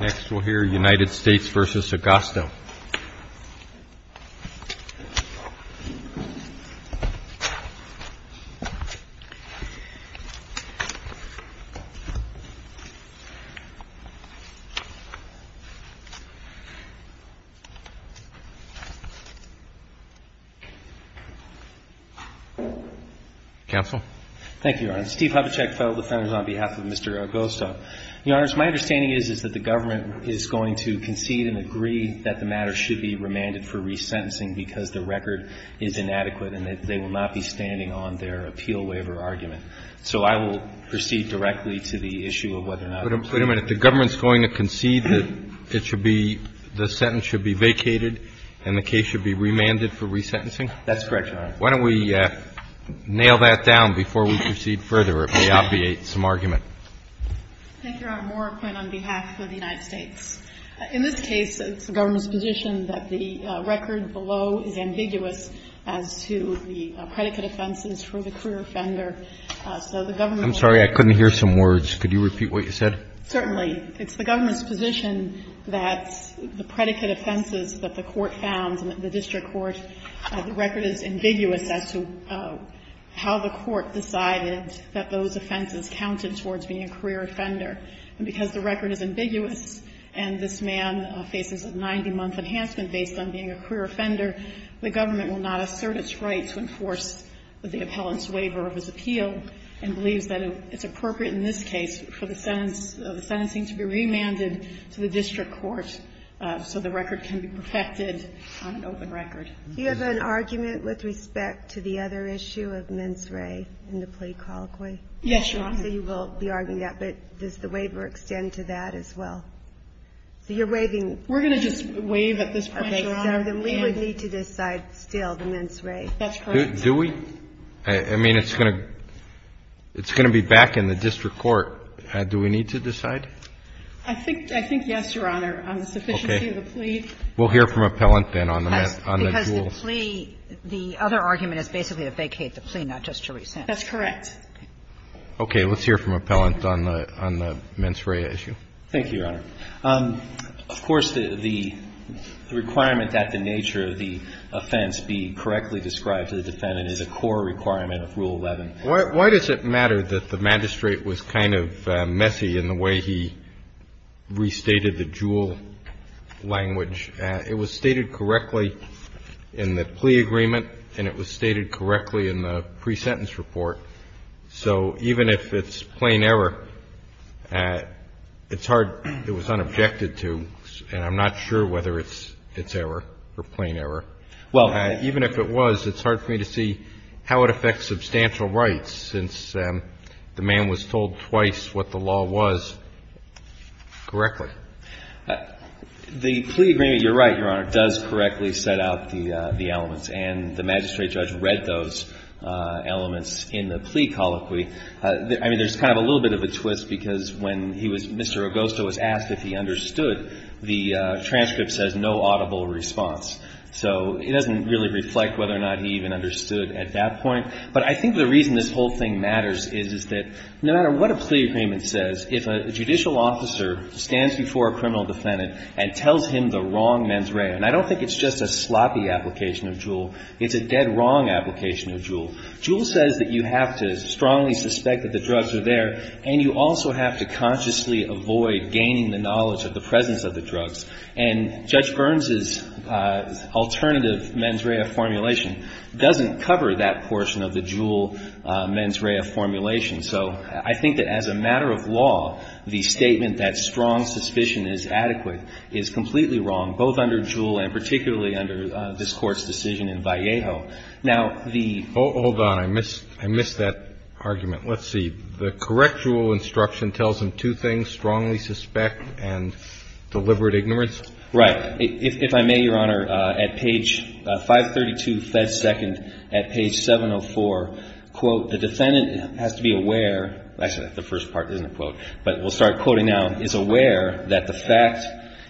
Next we'll hear United States v. Agosto. Counsel. Thank you, Your Honor. Steve Hubachek, Federal Defender, on behalf of Mr. Agosto. Your Honors, my understanding is, is that the government is going to concede and agree that the matter should be remanded for resentencing because the record is inadequate and that they will not be standing on their appeal waiver argument. So I will proceed directly to the issue of whether or not it should be remanded. Wait a minute. The government is going to concede that it should be, the sentence should be vacated and the case should be remanded for resentencing? That's correct, Your Honor. Why don't we nail that down before we proceed further? It may obviate some argument. Thank you, Your Honor. Moore, on behalf of the United States. In this case, it's the government's position that the record below is ambiguous as to the predicate offenses for the career offender. So the government's position is that the record is ambiguous. I'm sorry. I couldn't hear some words. Could you repeat what you said? Certainly. It's the government's position that the predicate offenses that the Court found, the district court, the record is ambiguous as to how the court decided that those offenses counted towards being a career offender. And because the record is ambiguous and this man faces a 90-month enhancement based on being a career offender, the government will not assert its right to enforce the appellant's waiver of his appeal and believes that it's appropriate in this case for the sentence, the sentencing to be remanded to the district court so the record can be protected on an open record. Do you have an argument with respect to the other issue of mens re in the plea colloquy? Yes, Your Honor. So you will be arguing that, but does the waiver extend to that as well? So you're waiving. We're going to just waive at this point, Your Honor. Okay. So then we would need to decide still the mens re. That's correct. Do we? I mean, it's going to be back in the district court. Do we need to decide? I think yes, Your Honor. On the sufficiency of the plea. Okay. We'll hear from appellant then on the jewels. Because the plea, the other argument is basically to vacate the plea, not just to rescind. That's correct. Okay. Let's hear from appellant on the mens re issue. Thank you, Your Honor. Of course, the requirement that the nature of the offense be correctly described to the defendant is a core requirement of Rule 11. Why does it matter that the magistrate was kind of messy in the way he restated the jewel language? It was stated correctly in the plea agreement, and it was stated correctly in the pre-sentence report. So even if it's plain error, it's hard. It was unobjected to, and I'm not sure whether it's error or plain error. Even if it was, it's hard for me to see how it affects substantial rights since the man was told twice what the law was correctly. The plea agreement, you're right, Your Honor, does correctly set out the elements, and the magistrate judge read those elements in the plea colloquy. I mean, there's kind of a little bit of a twist because when he was Mr. Agosto was asked if he understood, the transcript says no audible response. So it doesn't really reflect whether or not he even understood at that point. But I think the reason this whole thing matters is, is that no matter what a plea agreement says, if a judicial officer stands before a criminal defendant and tells him the wrong mens rea, and I don't think it's just a sloppy application of jewel. It's a dead wrong application of jewel. Jewel says that you have to strongly suspect that the drugs are there, and you also And Judge Burns's alternative mens rea formulation doesn't cover that portion of the jewel mens rea formulation. So I think that as a matter of law, the statement that strong suspicion is adequate is completely wrong, both under jewel and particularly under this Court's decision in Vallejo. Now, the ---- Roberts. Hold on. I missed that argument. Let's see. The correct jewel instruction tells him two things, strongly suspect and deliberate ignorance. Right. If I may, Your Honor, at page 532, Fed second, at page 704, quote, the defendant has to be aware, actually, that's the first part, isn't it, quote, but we'll start quoting now, is aware that the fact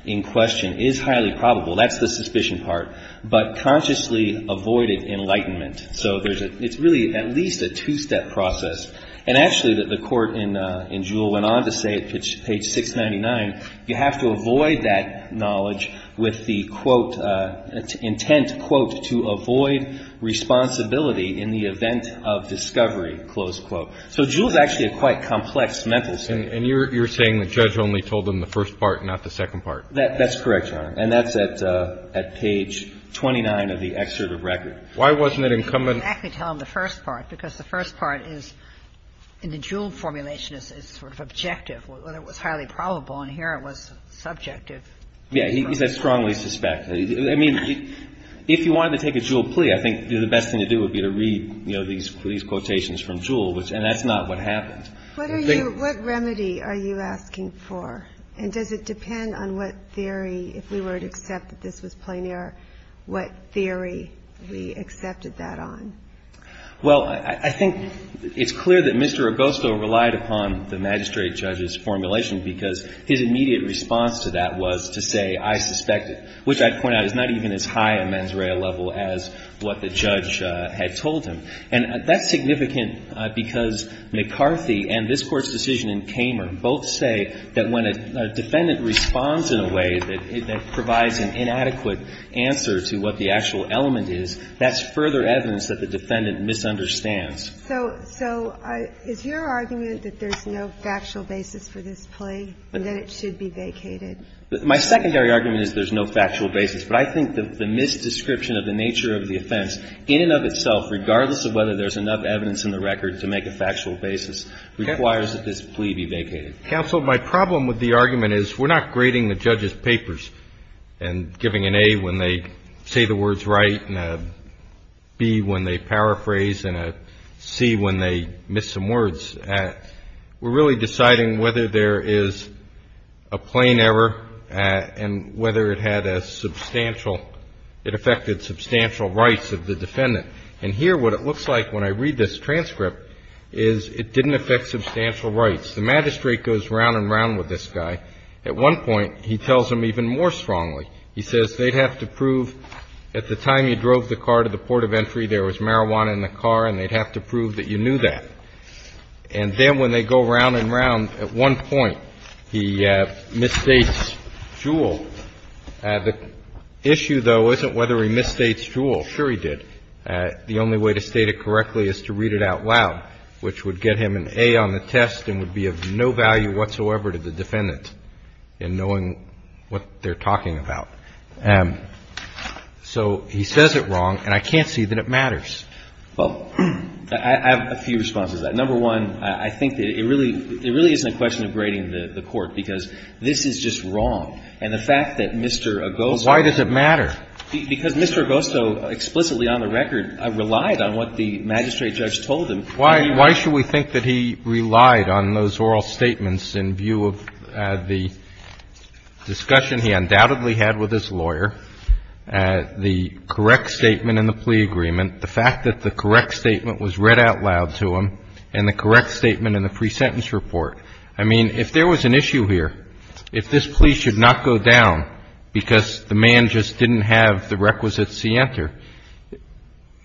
in question is highly probable. That's the suspicion part. But consciously avoided enlightenment. So there's a, it's really at least a two-step process. And actually, the Court in jewel went on to say at page 699, you have to avoid that knowledge with the, quote, intent, quote, to avoid responsibility in the event of discovery, close quote. So jewel is actually a quite complex mental statement. And you're saying the judge only told him the first part, not the second part. That's correct, Your Honor. And that's at page 29 of the excerpt of record. Why wasn't it incumbent? I didn't exactly tell him the first part, because the first part is in the jewel formulation is sort of objective, whether it was highly probable. And here it was subjective. Yeah. He said strongly suspect. I mean, if you wanted to take a jewel plea, I think the best thing to do would be to read, you know, these quotations from jewel, which, and that's not what happened. What are you, what remedy are you asking for? And does it depend on what theory, if we were to accept that this was plein air, what theory we accepted that on? Well, I think it's clear that Mr. Agosto relied upon the magistrate judge's formulation because his immediate response to that was to say, I suspect it, which I'd point out is not even as high a mens rea level as what the judge had told him. And that's significant because McCarthy and this Court's decision in Kamer both say that when a defendant responds in a way that provides an inadequate answer to what the actual element is, that's further evidence that the defendant misunderstands. So is your argument that there's no factual basis for this plea and that it should be vacated? My secondary argument is there's no factual basis. But I think the misdescription of the nature of the offense in and of itself, regardless of whether there's enough evidence in the record to make a factual basis, requires that this plea be vacated. Counsel, my problem with the argument is we're not grading the judge's papers and giving an A when they say the words right and a B when they paraphrase and a C when they miss some words. We're really deciding whether there is a plein air and whether it had a substantial – it affected substantial rights of the defendant. And here what it looks like when I read this transcript is it didn't affect substantial rights. The magistrate goes round and round with this guy. At one point, he tells him even more strongly. He says they'd have to prove at the time you drove the car to the port of entry there was marijuana in the car and they'd have to prove that you knew that. And then when they go round and round, at one point he misstates Jewell. The issue, though, isn't whether he misstates Jewell. Sure he did. The only way to state it correctly is to read it out loud, which would get him an A on the test and would be of no value whatsoever to the defendant in knowing what they're talking about. So he says it wrong, and I can't see that it matters. Well, I have a few responses to that. Number one, I think that it really isn't a question of grading the court because this is just wrong. And the fact that Mr. Agosto – Why does it matter? Because Mr. Agosto explicitly on the record relied on what the magistrate judge told him. Why should we think that he relied on those oral statements in view of the discussion he undoubtedly had with his lawyer, the correct statement in the plea agreement, the fact that the correct statement was read out loud to him, and the correct statement in the pre-sentence report? I mean, if there was an issue here, if this plea should not go down because the man just didn't have the requisites to enter,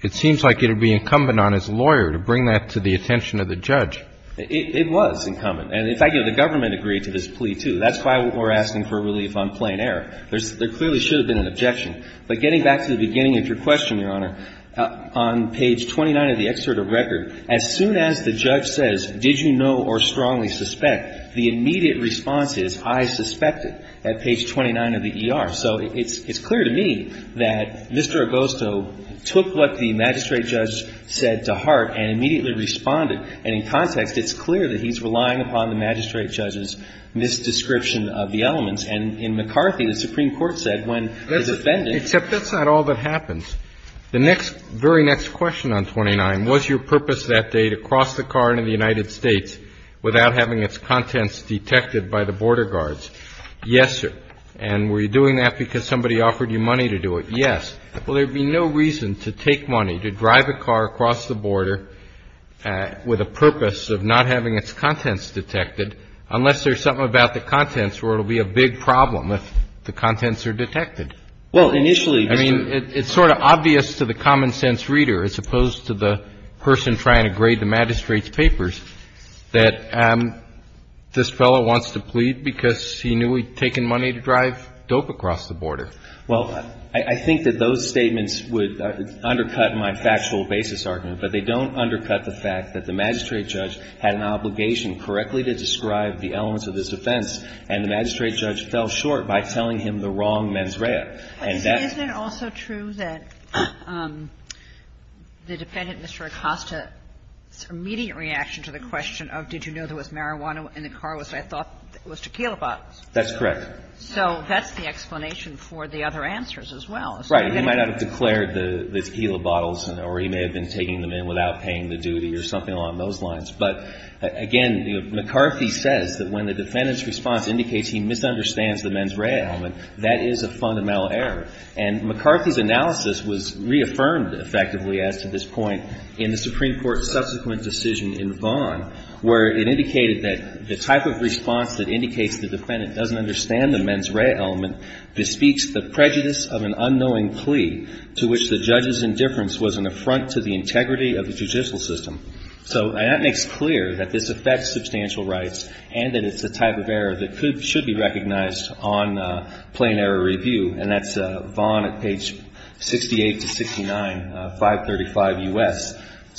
it seems like it would be incumbent on his lawyer to bring that to the attention of the judge. It was incumbent. And in fact, you know, the government agreed to this plea, too. That's why we're asking for relief on plain error. There clearly should have been an objection. But getting back to the beginning of your question, Your Honor, on page 29 of the excerpt of record, as soon as the judge says, did you know or strongly suspect, the immediate response is, I suspected at page 29 of the ER. So it's clear to me that Mr. Agosto took what the magistrate judge said to heart and immediately responded. And in context, it's clear that he's relying upon the magistrate judge's misdescription of the elements. And in McCarthy, the Supreme Court said when the defendant ---- Except that's not all that happens. The next, very next question on 29, was your purpose that day to cross the car into the United States without having its contents detected by the border guards? Yes, sir. And were you doing that because somebody offered you money to do it? Yes. Well, there'd be no reason to take money to drive a car across the border with a purpose of not having its contents detected unless there's something about the contents where it'll be a big problem if the contents are detected. Well, initially ---- I mean, it's sort of obvious to the common-sense reader, as opposed to the person trying to grade the magistrate's papers, that this fellow wants to plead because he knew he'd taken money to drive dope across the border. Well, I think that those statements would undercut my factual basis argument. But they don't undercut the fact that the magistrate judge had an obligation correctly to describe the elements of this offense, and the magistrate judge fell short by telling him the wrong mens rea. And that's ---- But isn't it also true that the defendant, Mr. Acosta, immediate reaction to the question of did you know there was marijuana in the car was I thought was tequila bottles? That's correct. So that's the explanation for the other answers as well. Right. He might not have declared the tequila bottles, or he may have been taking them in without paying the duty or something along those lines. But, again, McCarthy says that when the defendant's response indicates he misunderstands the mens rea element, that is a fundamental error. And McCarthy's analysis was reaffirmed effectively as to this point in the Supreme Court's subsequent decision in Vaughn where it indicated that the type of response that indicates the defendant doesn't understand the mens rea element bespeaks the prejudice of an unknowing plea to which the judge's indifference was an affront to the integrity of the judicial system. So that makes clear that this affects substantial rights and that it's a type of error that should be recognized on plain error review. And that's Vaughn at page 68 to 69, 535 U.S.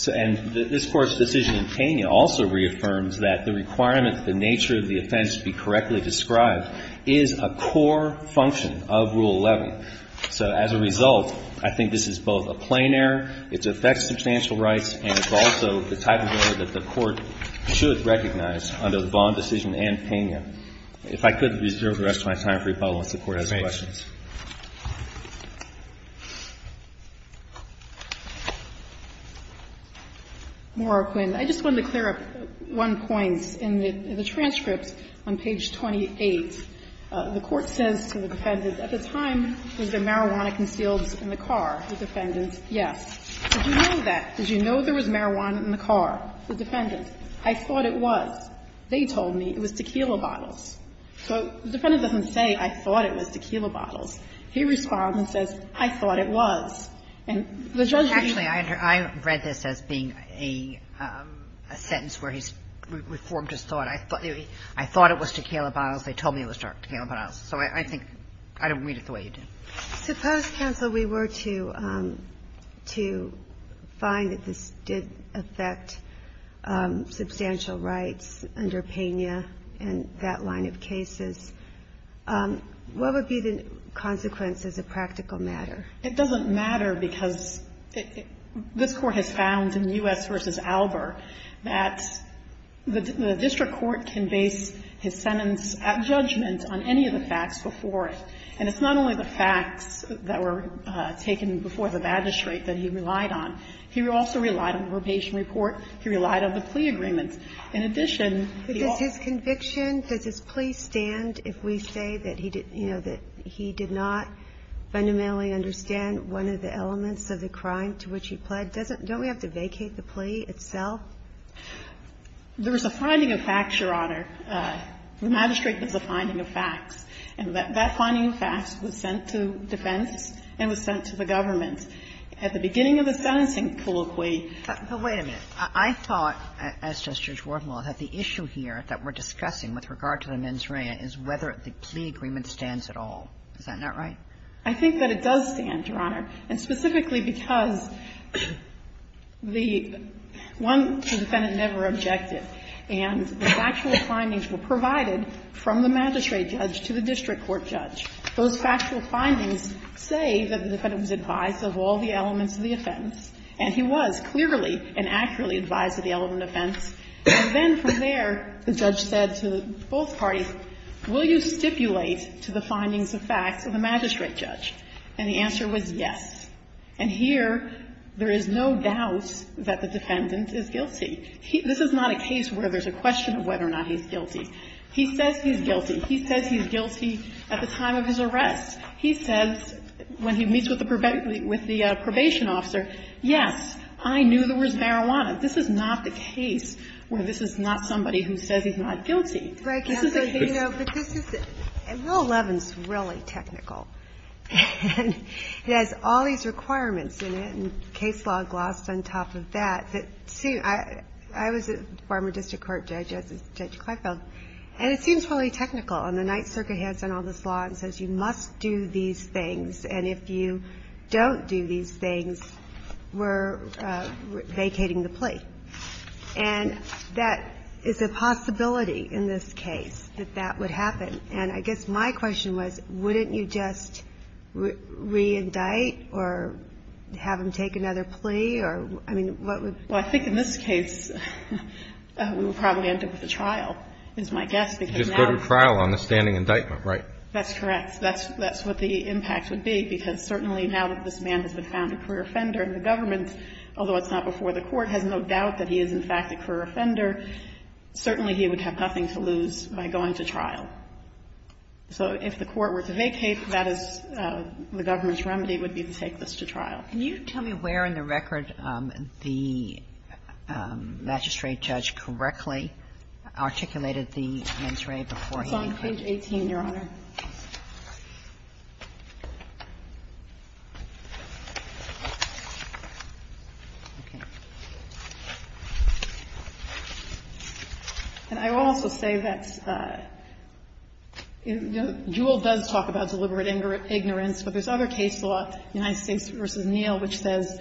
And this Court's decision in Pena also reaffirms that the requirement that the nature of the offense be correctly described is a core function of Rule 11. So as a result, I think this is both a plain error, it affects substantial rights, and it's also the type of error that the Court should recognize under the Vaughn decision and Pena. If I could reserve the rest of my time for rebuttal once the Court has questions. Morroquin, I just wanted to clear up one point. In the transcript on page 28, the Court says to the defendant, at the time, was there marijuana concealed in the car? The defendant, yes. Did you know that? Did you know there was marijuana in the car? The defendant, I thought it was. They told me it was tequila bottles. So the defendant doesn't say, I thought it was tequila bottles. He responds and says, I thought it was. And the judge would usually say that. Kagan. Actually, I read this as being a sentence where he's reformed his thought. I thought it was tequila bottles. They told me it was tequila bottles. So I think I don't read it the way you do. Suppose, counsel, we were to find that this did affect substantial rights under Pena and that line of cases. What would be the consequences of practical matter? It doesn't matter because this Court has found in U.S. v. Albert that the district court can base his sentence at judgment on any of the facts before it. And it's not only the facts that were taken before the magistrate that he relied on. He also relied on probation report. He relied on the plea agreements. In addition, he also ---- But does his conviction, does his plea stand if we say that he did, you know, that he did not fundamentally understand one of the elements of the crime to which he pled? Doesn't we have to vacate the plea itself? There is a finding of facts, Your Honor. The magistrate gives a finding of facts. And that finding of facts was sent to defense and was sent to the government. At the beginning of the sentencing colloquy ---- But wait a minute. I thought, as does Judge Worthenwell, that the issue here that we're discussing with regard to the mens rea is whether the plea agreement stands at all. Is that not right? I think that it does stand, Your Honor. And specifically because the ---- one, the defendant never objected. And the factual findings were provided from the magistrate judge to the district court judge. Those factual findings say that the defendant was advised of all the elements of the offense. And he was clearly and accurately advised of the element of offense. And then from there, the judge said to both parties, will you stipulate to the findings of facts of the magistrate judge? And the answer was yes. And here, there is no doubt that the defendant is guilty. This is not a case where there's a question of whether or not he's guilty. He says he's guilty. He says he's guilty at the time of his arrest. He says, when he meets with the probation officer, yes, I knew there was marijuana. This is not the case where this is not somebody who says he's not guilty. This is a case ---- Right, Counsel. You know, but this is ---- Rule 11 is really technical. And it has all these requirements in it, and case law glossed on top of that. I was a former district court judge as is Judge Kleifeld. And it seems really technical. And the Ninth Circuit hands down all this law and says you must do these things. And if you don't do these things, we're vacating the plea. And that is a possibility in this case, that that would happen. And I guess my question was, wouldn't you just reindict or have him take another plea? I mean, what would ---- Well, I think in this case, we would probably end up with a trial, is my guess, because now ---- You'd just go to trial on the standing indictment, right? That's correct. That's what the impact would be, because certainly now that this man has been found a career offender, and the government, although it's not before the court, has no doubt that he is in fact a career offender, certainly he would have nothing to lose by going to trial. So if the court were to vacate, that is the government's remedy would be to take this to trial. Can you tell me where in the record the magistrate judge correctly articulated the mens rea beforehand? It's on page 18, Your Honor. And I will also say that Juul does talk about deliberate ignorance, but there's another case law, United States v. Neal, which says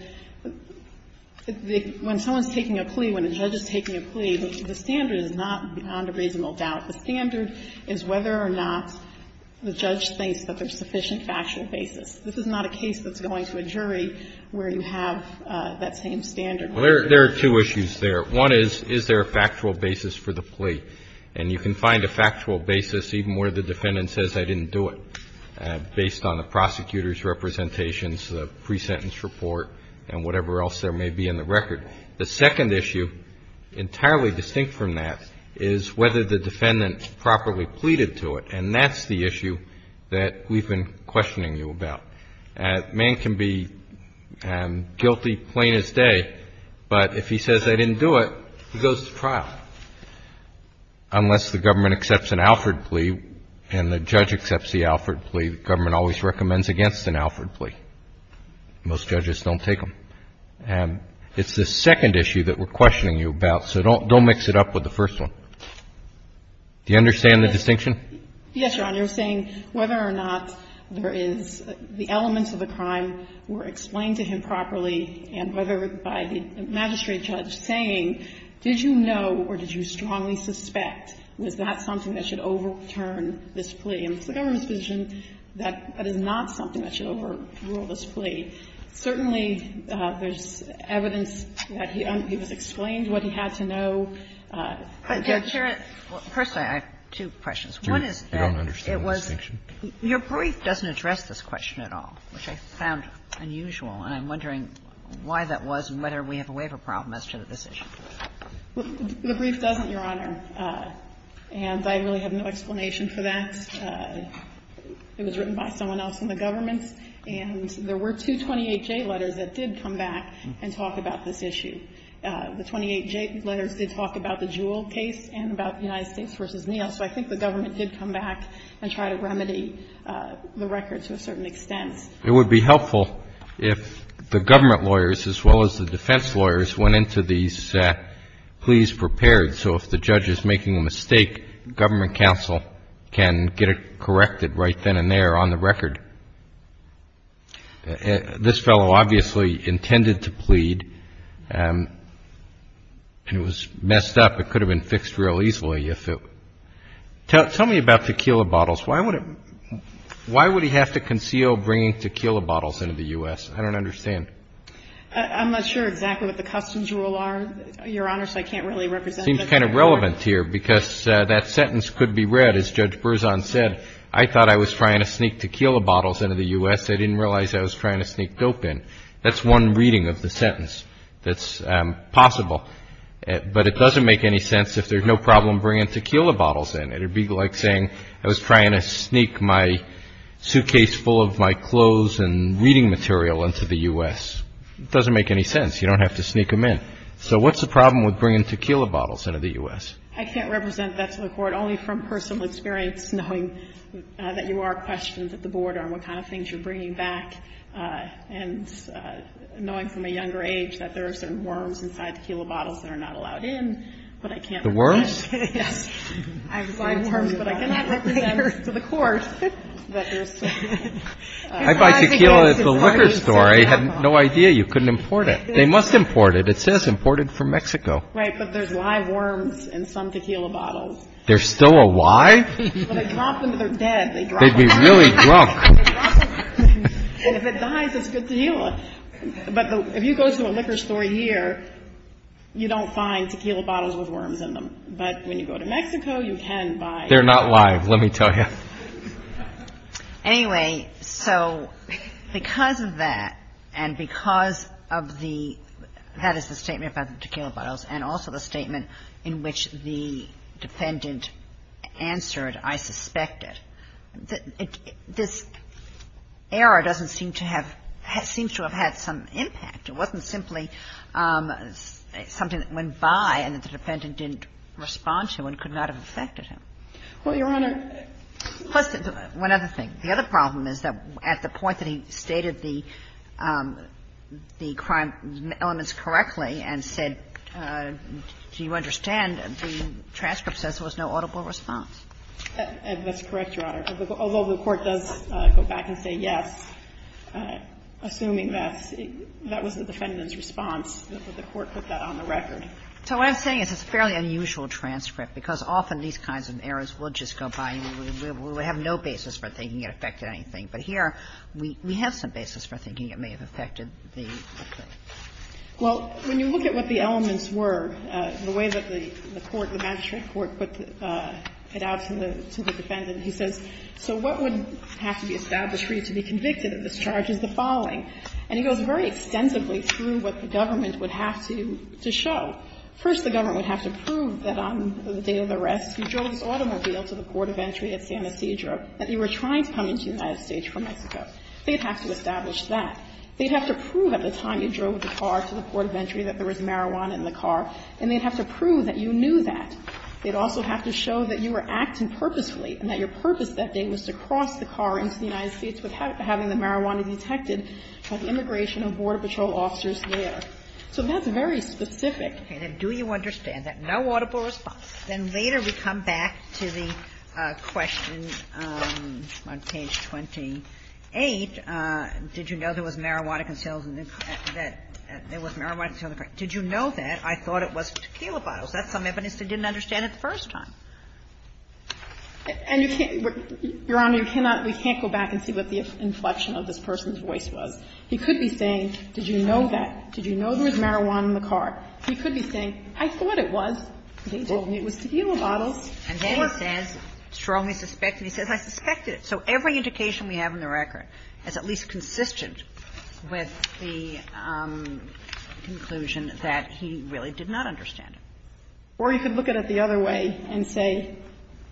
when someone's taking a plea, when a judge is taking a plea, the standard is not beyond a reasonable doubt. The standard is whether or not the judge thinks that there's sufficient factual basis. This is not a case that's going to a jury where you have that same standard. Well, there are two issues there. One is, is there a factual basis for the plea? And you can find a factual basis even where the defendant says, I didn't do it, based on the prosecutor's representations, the pre-sentence report, and whatever else there may be in the record. The second issue, entirely distinct from that, is whether the defendant properly pleaded to it. And that's the issue that we've been questioning you about. A man can be guilty plain as day, but if he says I didn't do it, he goes to trial. Unless the government accepts an Alford plea and the judge accepts the Alford plea, the government always recommends against an Alford plea. Most judges don't take them. And it's the second issue that we're questioning you about, so don't mix it up with the first one. Do you understand the distinction? Yes, Your Honor. You're saying whether or not there is the elements of the crime were explained to him properly and whether by the magistrate judge saying, did you know or did you strongly suspect, was that something that should overturn this plea? And it's the government's position that that is not something that should overrule this plea. Certainly, there's evidence that he was explained what he had to know. But, Your Honor, I have two questions. One is that it was Your brief doesn't address this question at all, which I found unusual, and I'm wondering why that was and whether we have a waiver problem as to the decision. The brief doesn't, Your Honor, and I really have no explanation for that. It was written by someone else in the government, and there were two 28J letters that did come back and talk about this issue. The 28J letters did talk about the Jewell case and about the United States v. Neal. So I think the government did come back and try to remedy the record to a certain extent. It would be helpful if the government lawyers, as well as the defense lawyers, went into these pleas prepared so if the judge is making a mistake, government counsel can get it corrected right then and there on the record. This fellow obviously intended to plead, and it was messed up. It could have been fixed real easily if it was. Tell me about tequila bottles. Why would he have to conceal bringing tequila bottles into the U.S.? I don't understand. I'm not sure exactly what the customs rule are, Your Honor, so I can't really represent it. It seems kind of relevant here because that sentence could be read, as Judge Berzon said, I thought I was trying to sneak tequila bottles into the U.S. I didn't realize I was trying to sneak dope in. That's one reading of the sentence that's possible. But it doesn't make any sense if there's no problem bringing tequila bottles in. It would be like saying I was trying to sneak my suitcase full of my clothes and reading material into the U.S. It doesn't make any sense. You don't have to sneak them in. So what's the problem with bringing tequila bottles into the U.S.? I can't represent that to the Court, only from personal experience, knowing that you are questioned at the Board on what kind of things you're bringing back, and knowing from a younger age that there are certain worms inside tequila bottles that are not allowed in, but I can't represent it. The worms? Yes. I have five worms, but I cannot represent to the Court that there's some. I buy tequila at the liquor store. I had no idea you couldn't import it. They must import it. It says imported from Mexico. Right. But there's live worms in some tequila bottles. They're still alive? When they drop them, they're dead. They'd be really drunk. And if it dies, it's good tequila. But if you go to a liquor store here, you don't find tequila bottles with worms in them. But when you go to Mexico, you can buy. They're not live, let me tell you. Anyway, so because of that, and because of the --" that is the statement about the tequila bottles, and also the statement in which the defendant answered, I suspect it, this error doesn't seem to have seems to have had some impact. It wasn't simply something that went by and that the defendant didn't respond to and could not have affected him. Well, Your Honor, plus one other thing. The other problem is that at the point that he stated the crime elements correctly and said, do you understand, the transcript says there was no audible response. That's correct, Your Honor. Although the Court does go back and say yes, assuming that that was the defendant's response, the Court put that on the record. So what I'm saying is it's a fairly unusual transcript, because often these kinds of errors will just go by and we have no basis for thinking it affected anything. But here, we have some basis for thinking it may have affected the defendant. Well, when you look at what the elements were, the way that the Court, the magistrate court put it out to the defendant, he says, so what would have to be established for you to be convicted of this charge is the following. And he goes very extensively through what the government would have to show. First, the government would have to prove that on the day of the arrest, you drove this automobile to the port of entry at San Ysidro, that you were trying to come into the United States from Mexico. They'd have to establish that. They'd have to prove at the time you drove the car to the port of entry that there was marijuana in the car, and they'd have to prove that you knew that. They'd also have to show that you were acting purposefully and that your purpose that day was to cross the car into the United States without having the marijuana detected. And the immigration or border patrol officers there. So that's very specific. Okay. Then do you understand that? No audible response. Then later we come back to the question on page 28, did you know there was marijuana concealed in the car? Did you know that? I thought it was tequila bottles. That's some evidence they didn't understand at the first time. And you can't go back and see what the inflection of this person's voice was. He could be saying, did you know that? Did you know there was marijuana in the car? He could be saying, I thought it was. He told me it was tequila bottles. Or he could say, I strongly suspect, and he says, I suspected it. So every indication we have in the record is at least consistent with the conclusion that he really did not understand it. Or he could look at it the other way and say,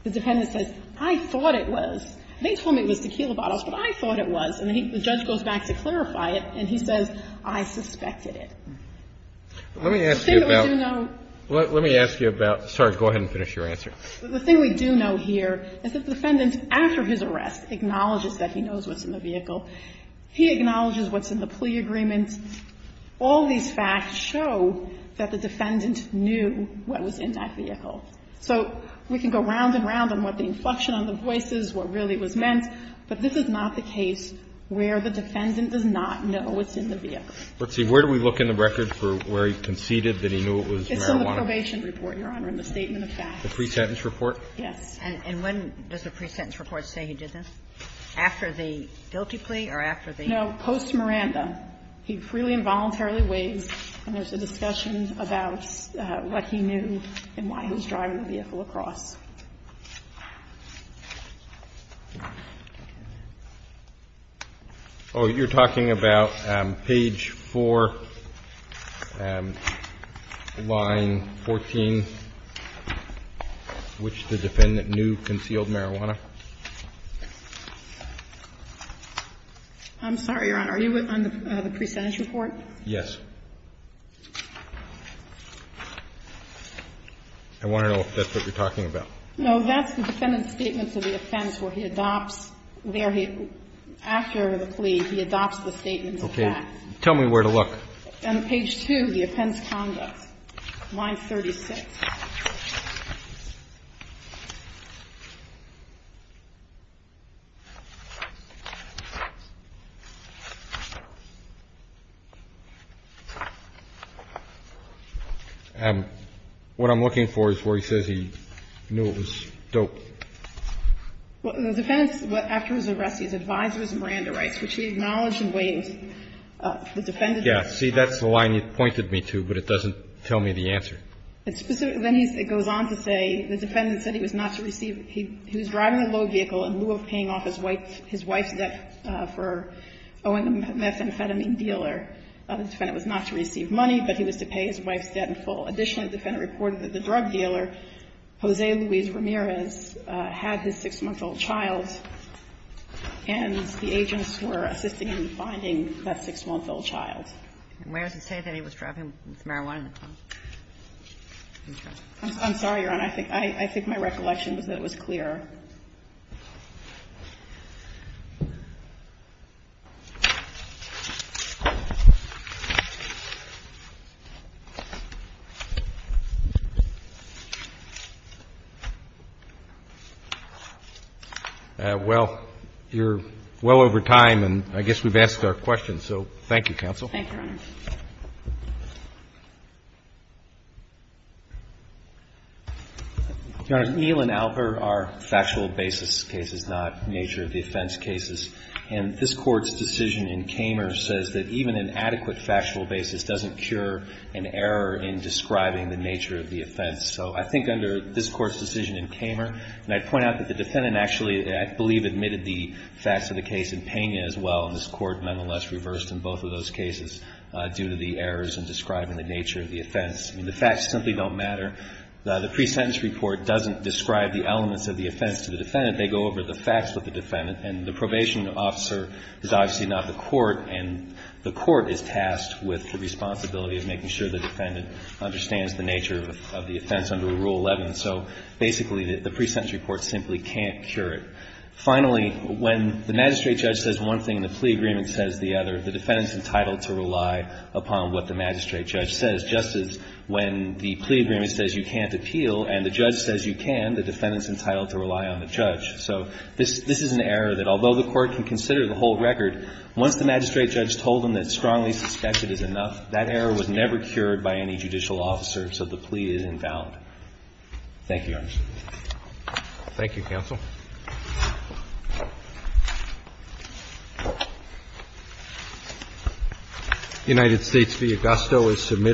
the defendant says, I thought it was. They told me it was tequila bottles, but I thought it was. And the judge goes back to clarify it, and he says, I suspected it. The thing we do know here is that the defendant, after his arrest, acknowledges that he knows what's in the vehicle. He acknowledges what's in the plea agreement. All these facts show that the defendant knew what was in that vehicle. So we can go round and round on what the inflection on the voice is, what really was meant, but this is not the case where the defendant does not know what's in the vehicle. But see, where do we look in the record for where he conceded that he knew it was marijuana? It's in the probation report, Your Honor, in the statement of facts. The pre-sentence report? Yes. And when does the pre-sentence report say he did this? After the guilty plea or after the plea? No, post-Miranda. He freely and voluntarily waives, and there's a discussion about what he knew and why he was driving the vehicle across. Oh, you're talking about page 4, line 14, which the defendant knew concealed marijuana? I'm sorry, Your Honor. Are you on the pre-sentence report? Yes. I want to know if that's what you're talking about. No, that's the defendant's statement to the offense where he adopts there he – after the plea, he adopts the statement of facts. Okay. Tell me where to look. On page 2, the offense conduct, line 36. What I'm looking for is where he says he knew it was dope. Well, the defendant, after his arrest, he's advised it was Miranda rights, which he acknowledged and waived. The defendant – Yes. See, that's the line you pointed me to, but it doesn't tell me the answer. It specifically – it goes on to say the defendant said he was not to receive – he was driving a low vehicle in lieu of paying off his wife's debt for owing a methamphetamine dealer. The defendant was not to receive money, but he was to pay his wife's debt in full. Additionally, the defendant reported that the drug dealer, Jose Luis Ramirez, had his 6-month-old child, and the agents were assisting in finding that 6-month-old child. And where does it say that he was driving with marijuana in the car? I'm sorry, Your Honor, I think my recollection was that it was clear. Well, you're well over time, and I guess we've asked our questions, so thank you, counsel. Thank you, Your Honor. Your Honor, Neal and Alper are factual basis cases, not nature of defense cases. And this Court's decision in Kamer says that even an adequate factual basis doesn't cure an error in describing the nature of the offense. So I think under this Court's decision in Kamer – and I'd point out that the defendant actually, I believe, admitted the facts of the case in Pena as well, and this Court nonetheless reversed in both of those cases. And the court's decision in Kamer says that even an adequate factual basis doesn't cure an error in describing the nature of the offense. The facts simply don't matter. The pre-sentence report doesn't describe the elements of the offense to the defendant. They go over the facts with the defendant. And the probation officer is obviously not the court, and the court is tasked with the responsibility of making sure the defendant understands the nature of the offense under Rule 11. So basically, the pre-sentence report simply can't cure it. Finally, when the magistrate judge says one thing and the plea agreement says the other, the defendant's entitled to rely upon what the magistrate judge says, just as when the plea agreement says you can't appeal and the judge says you can, the defendant's entitled to rely on the judge. So this is an error that, although the court can consider the whole record, once the magistrate judge told them that strongly suspected is enough, that error was never cured by any judicial officer, so the plea is invalid. Thank you, Your Honor. Thank you, counsel. The United States v. Augusto is submitted.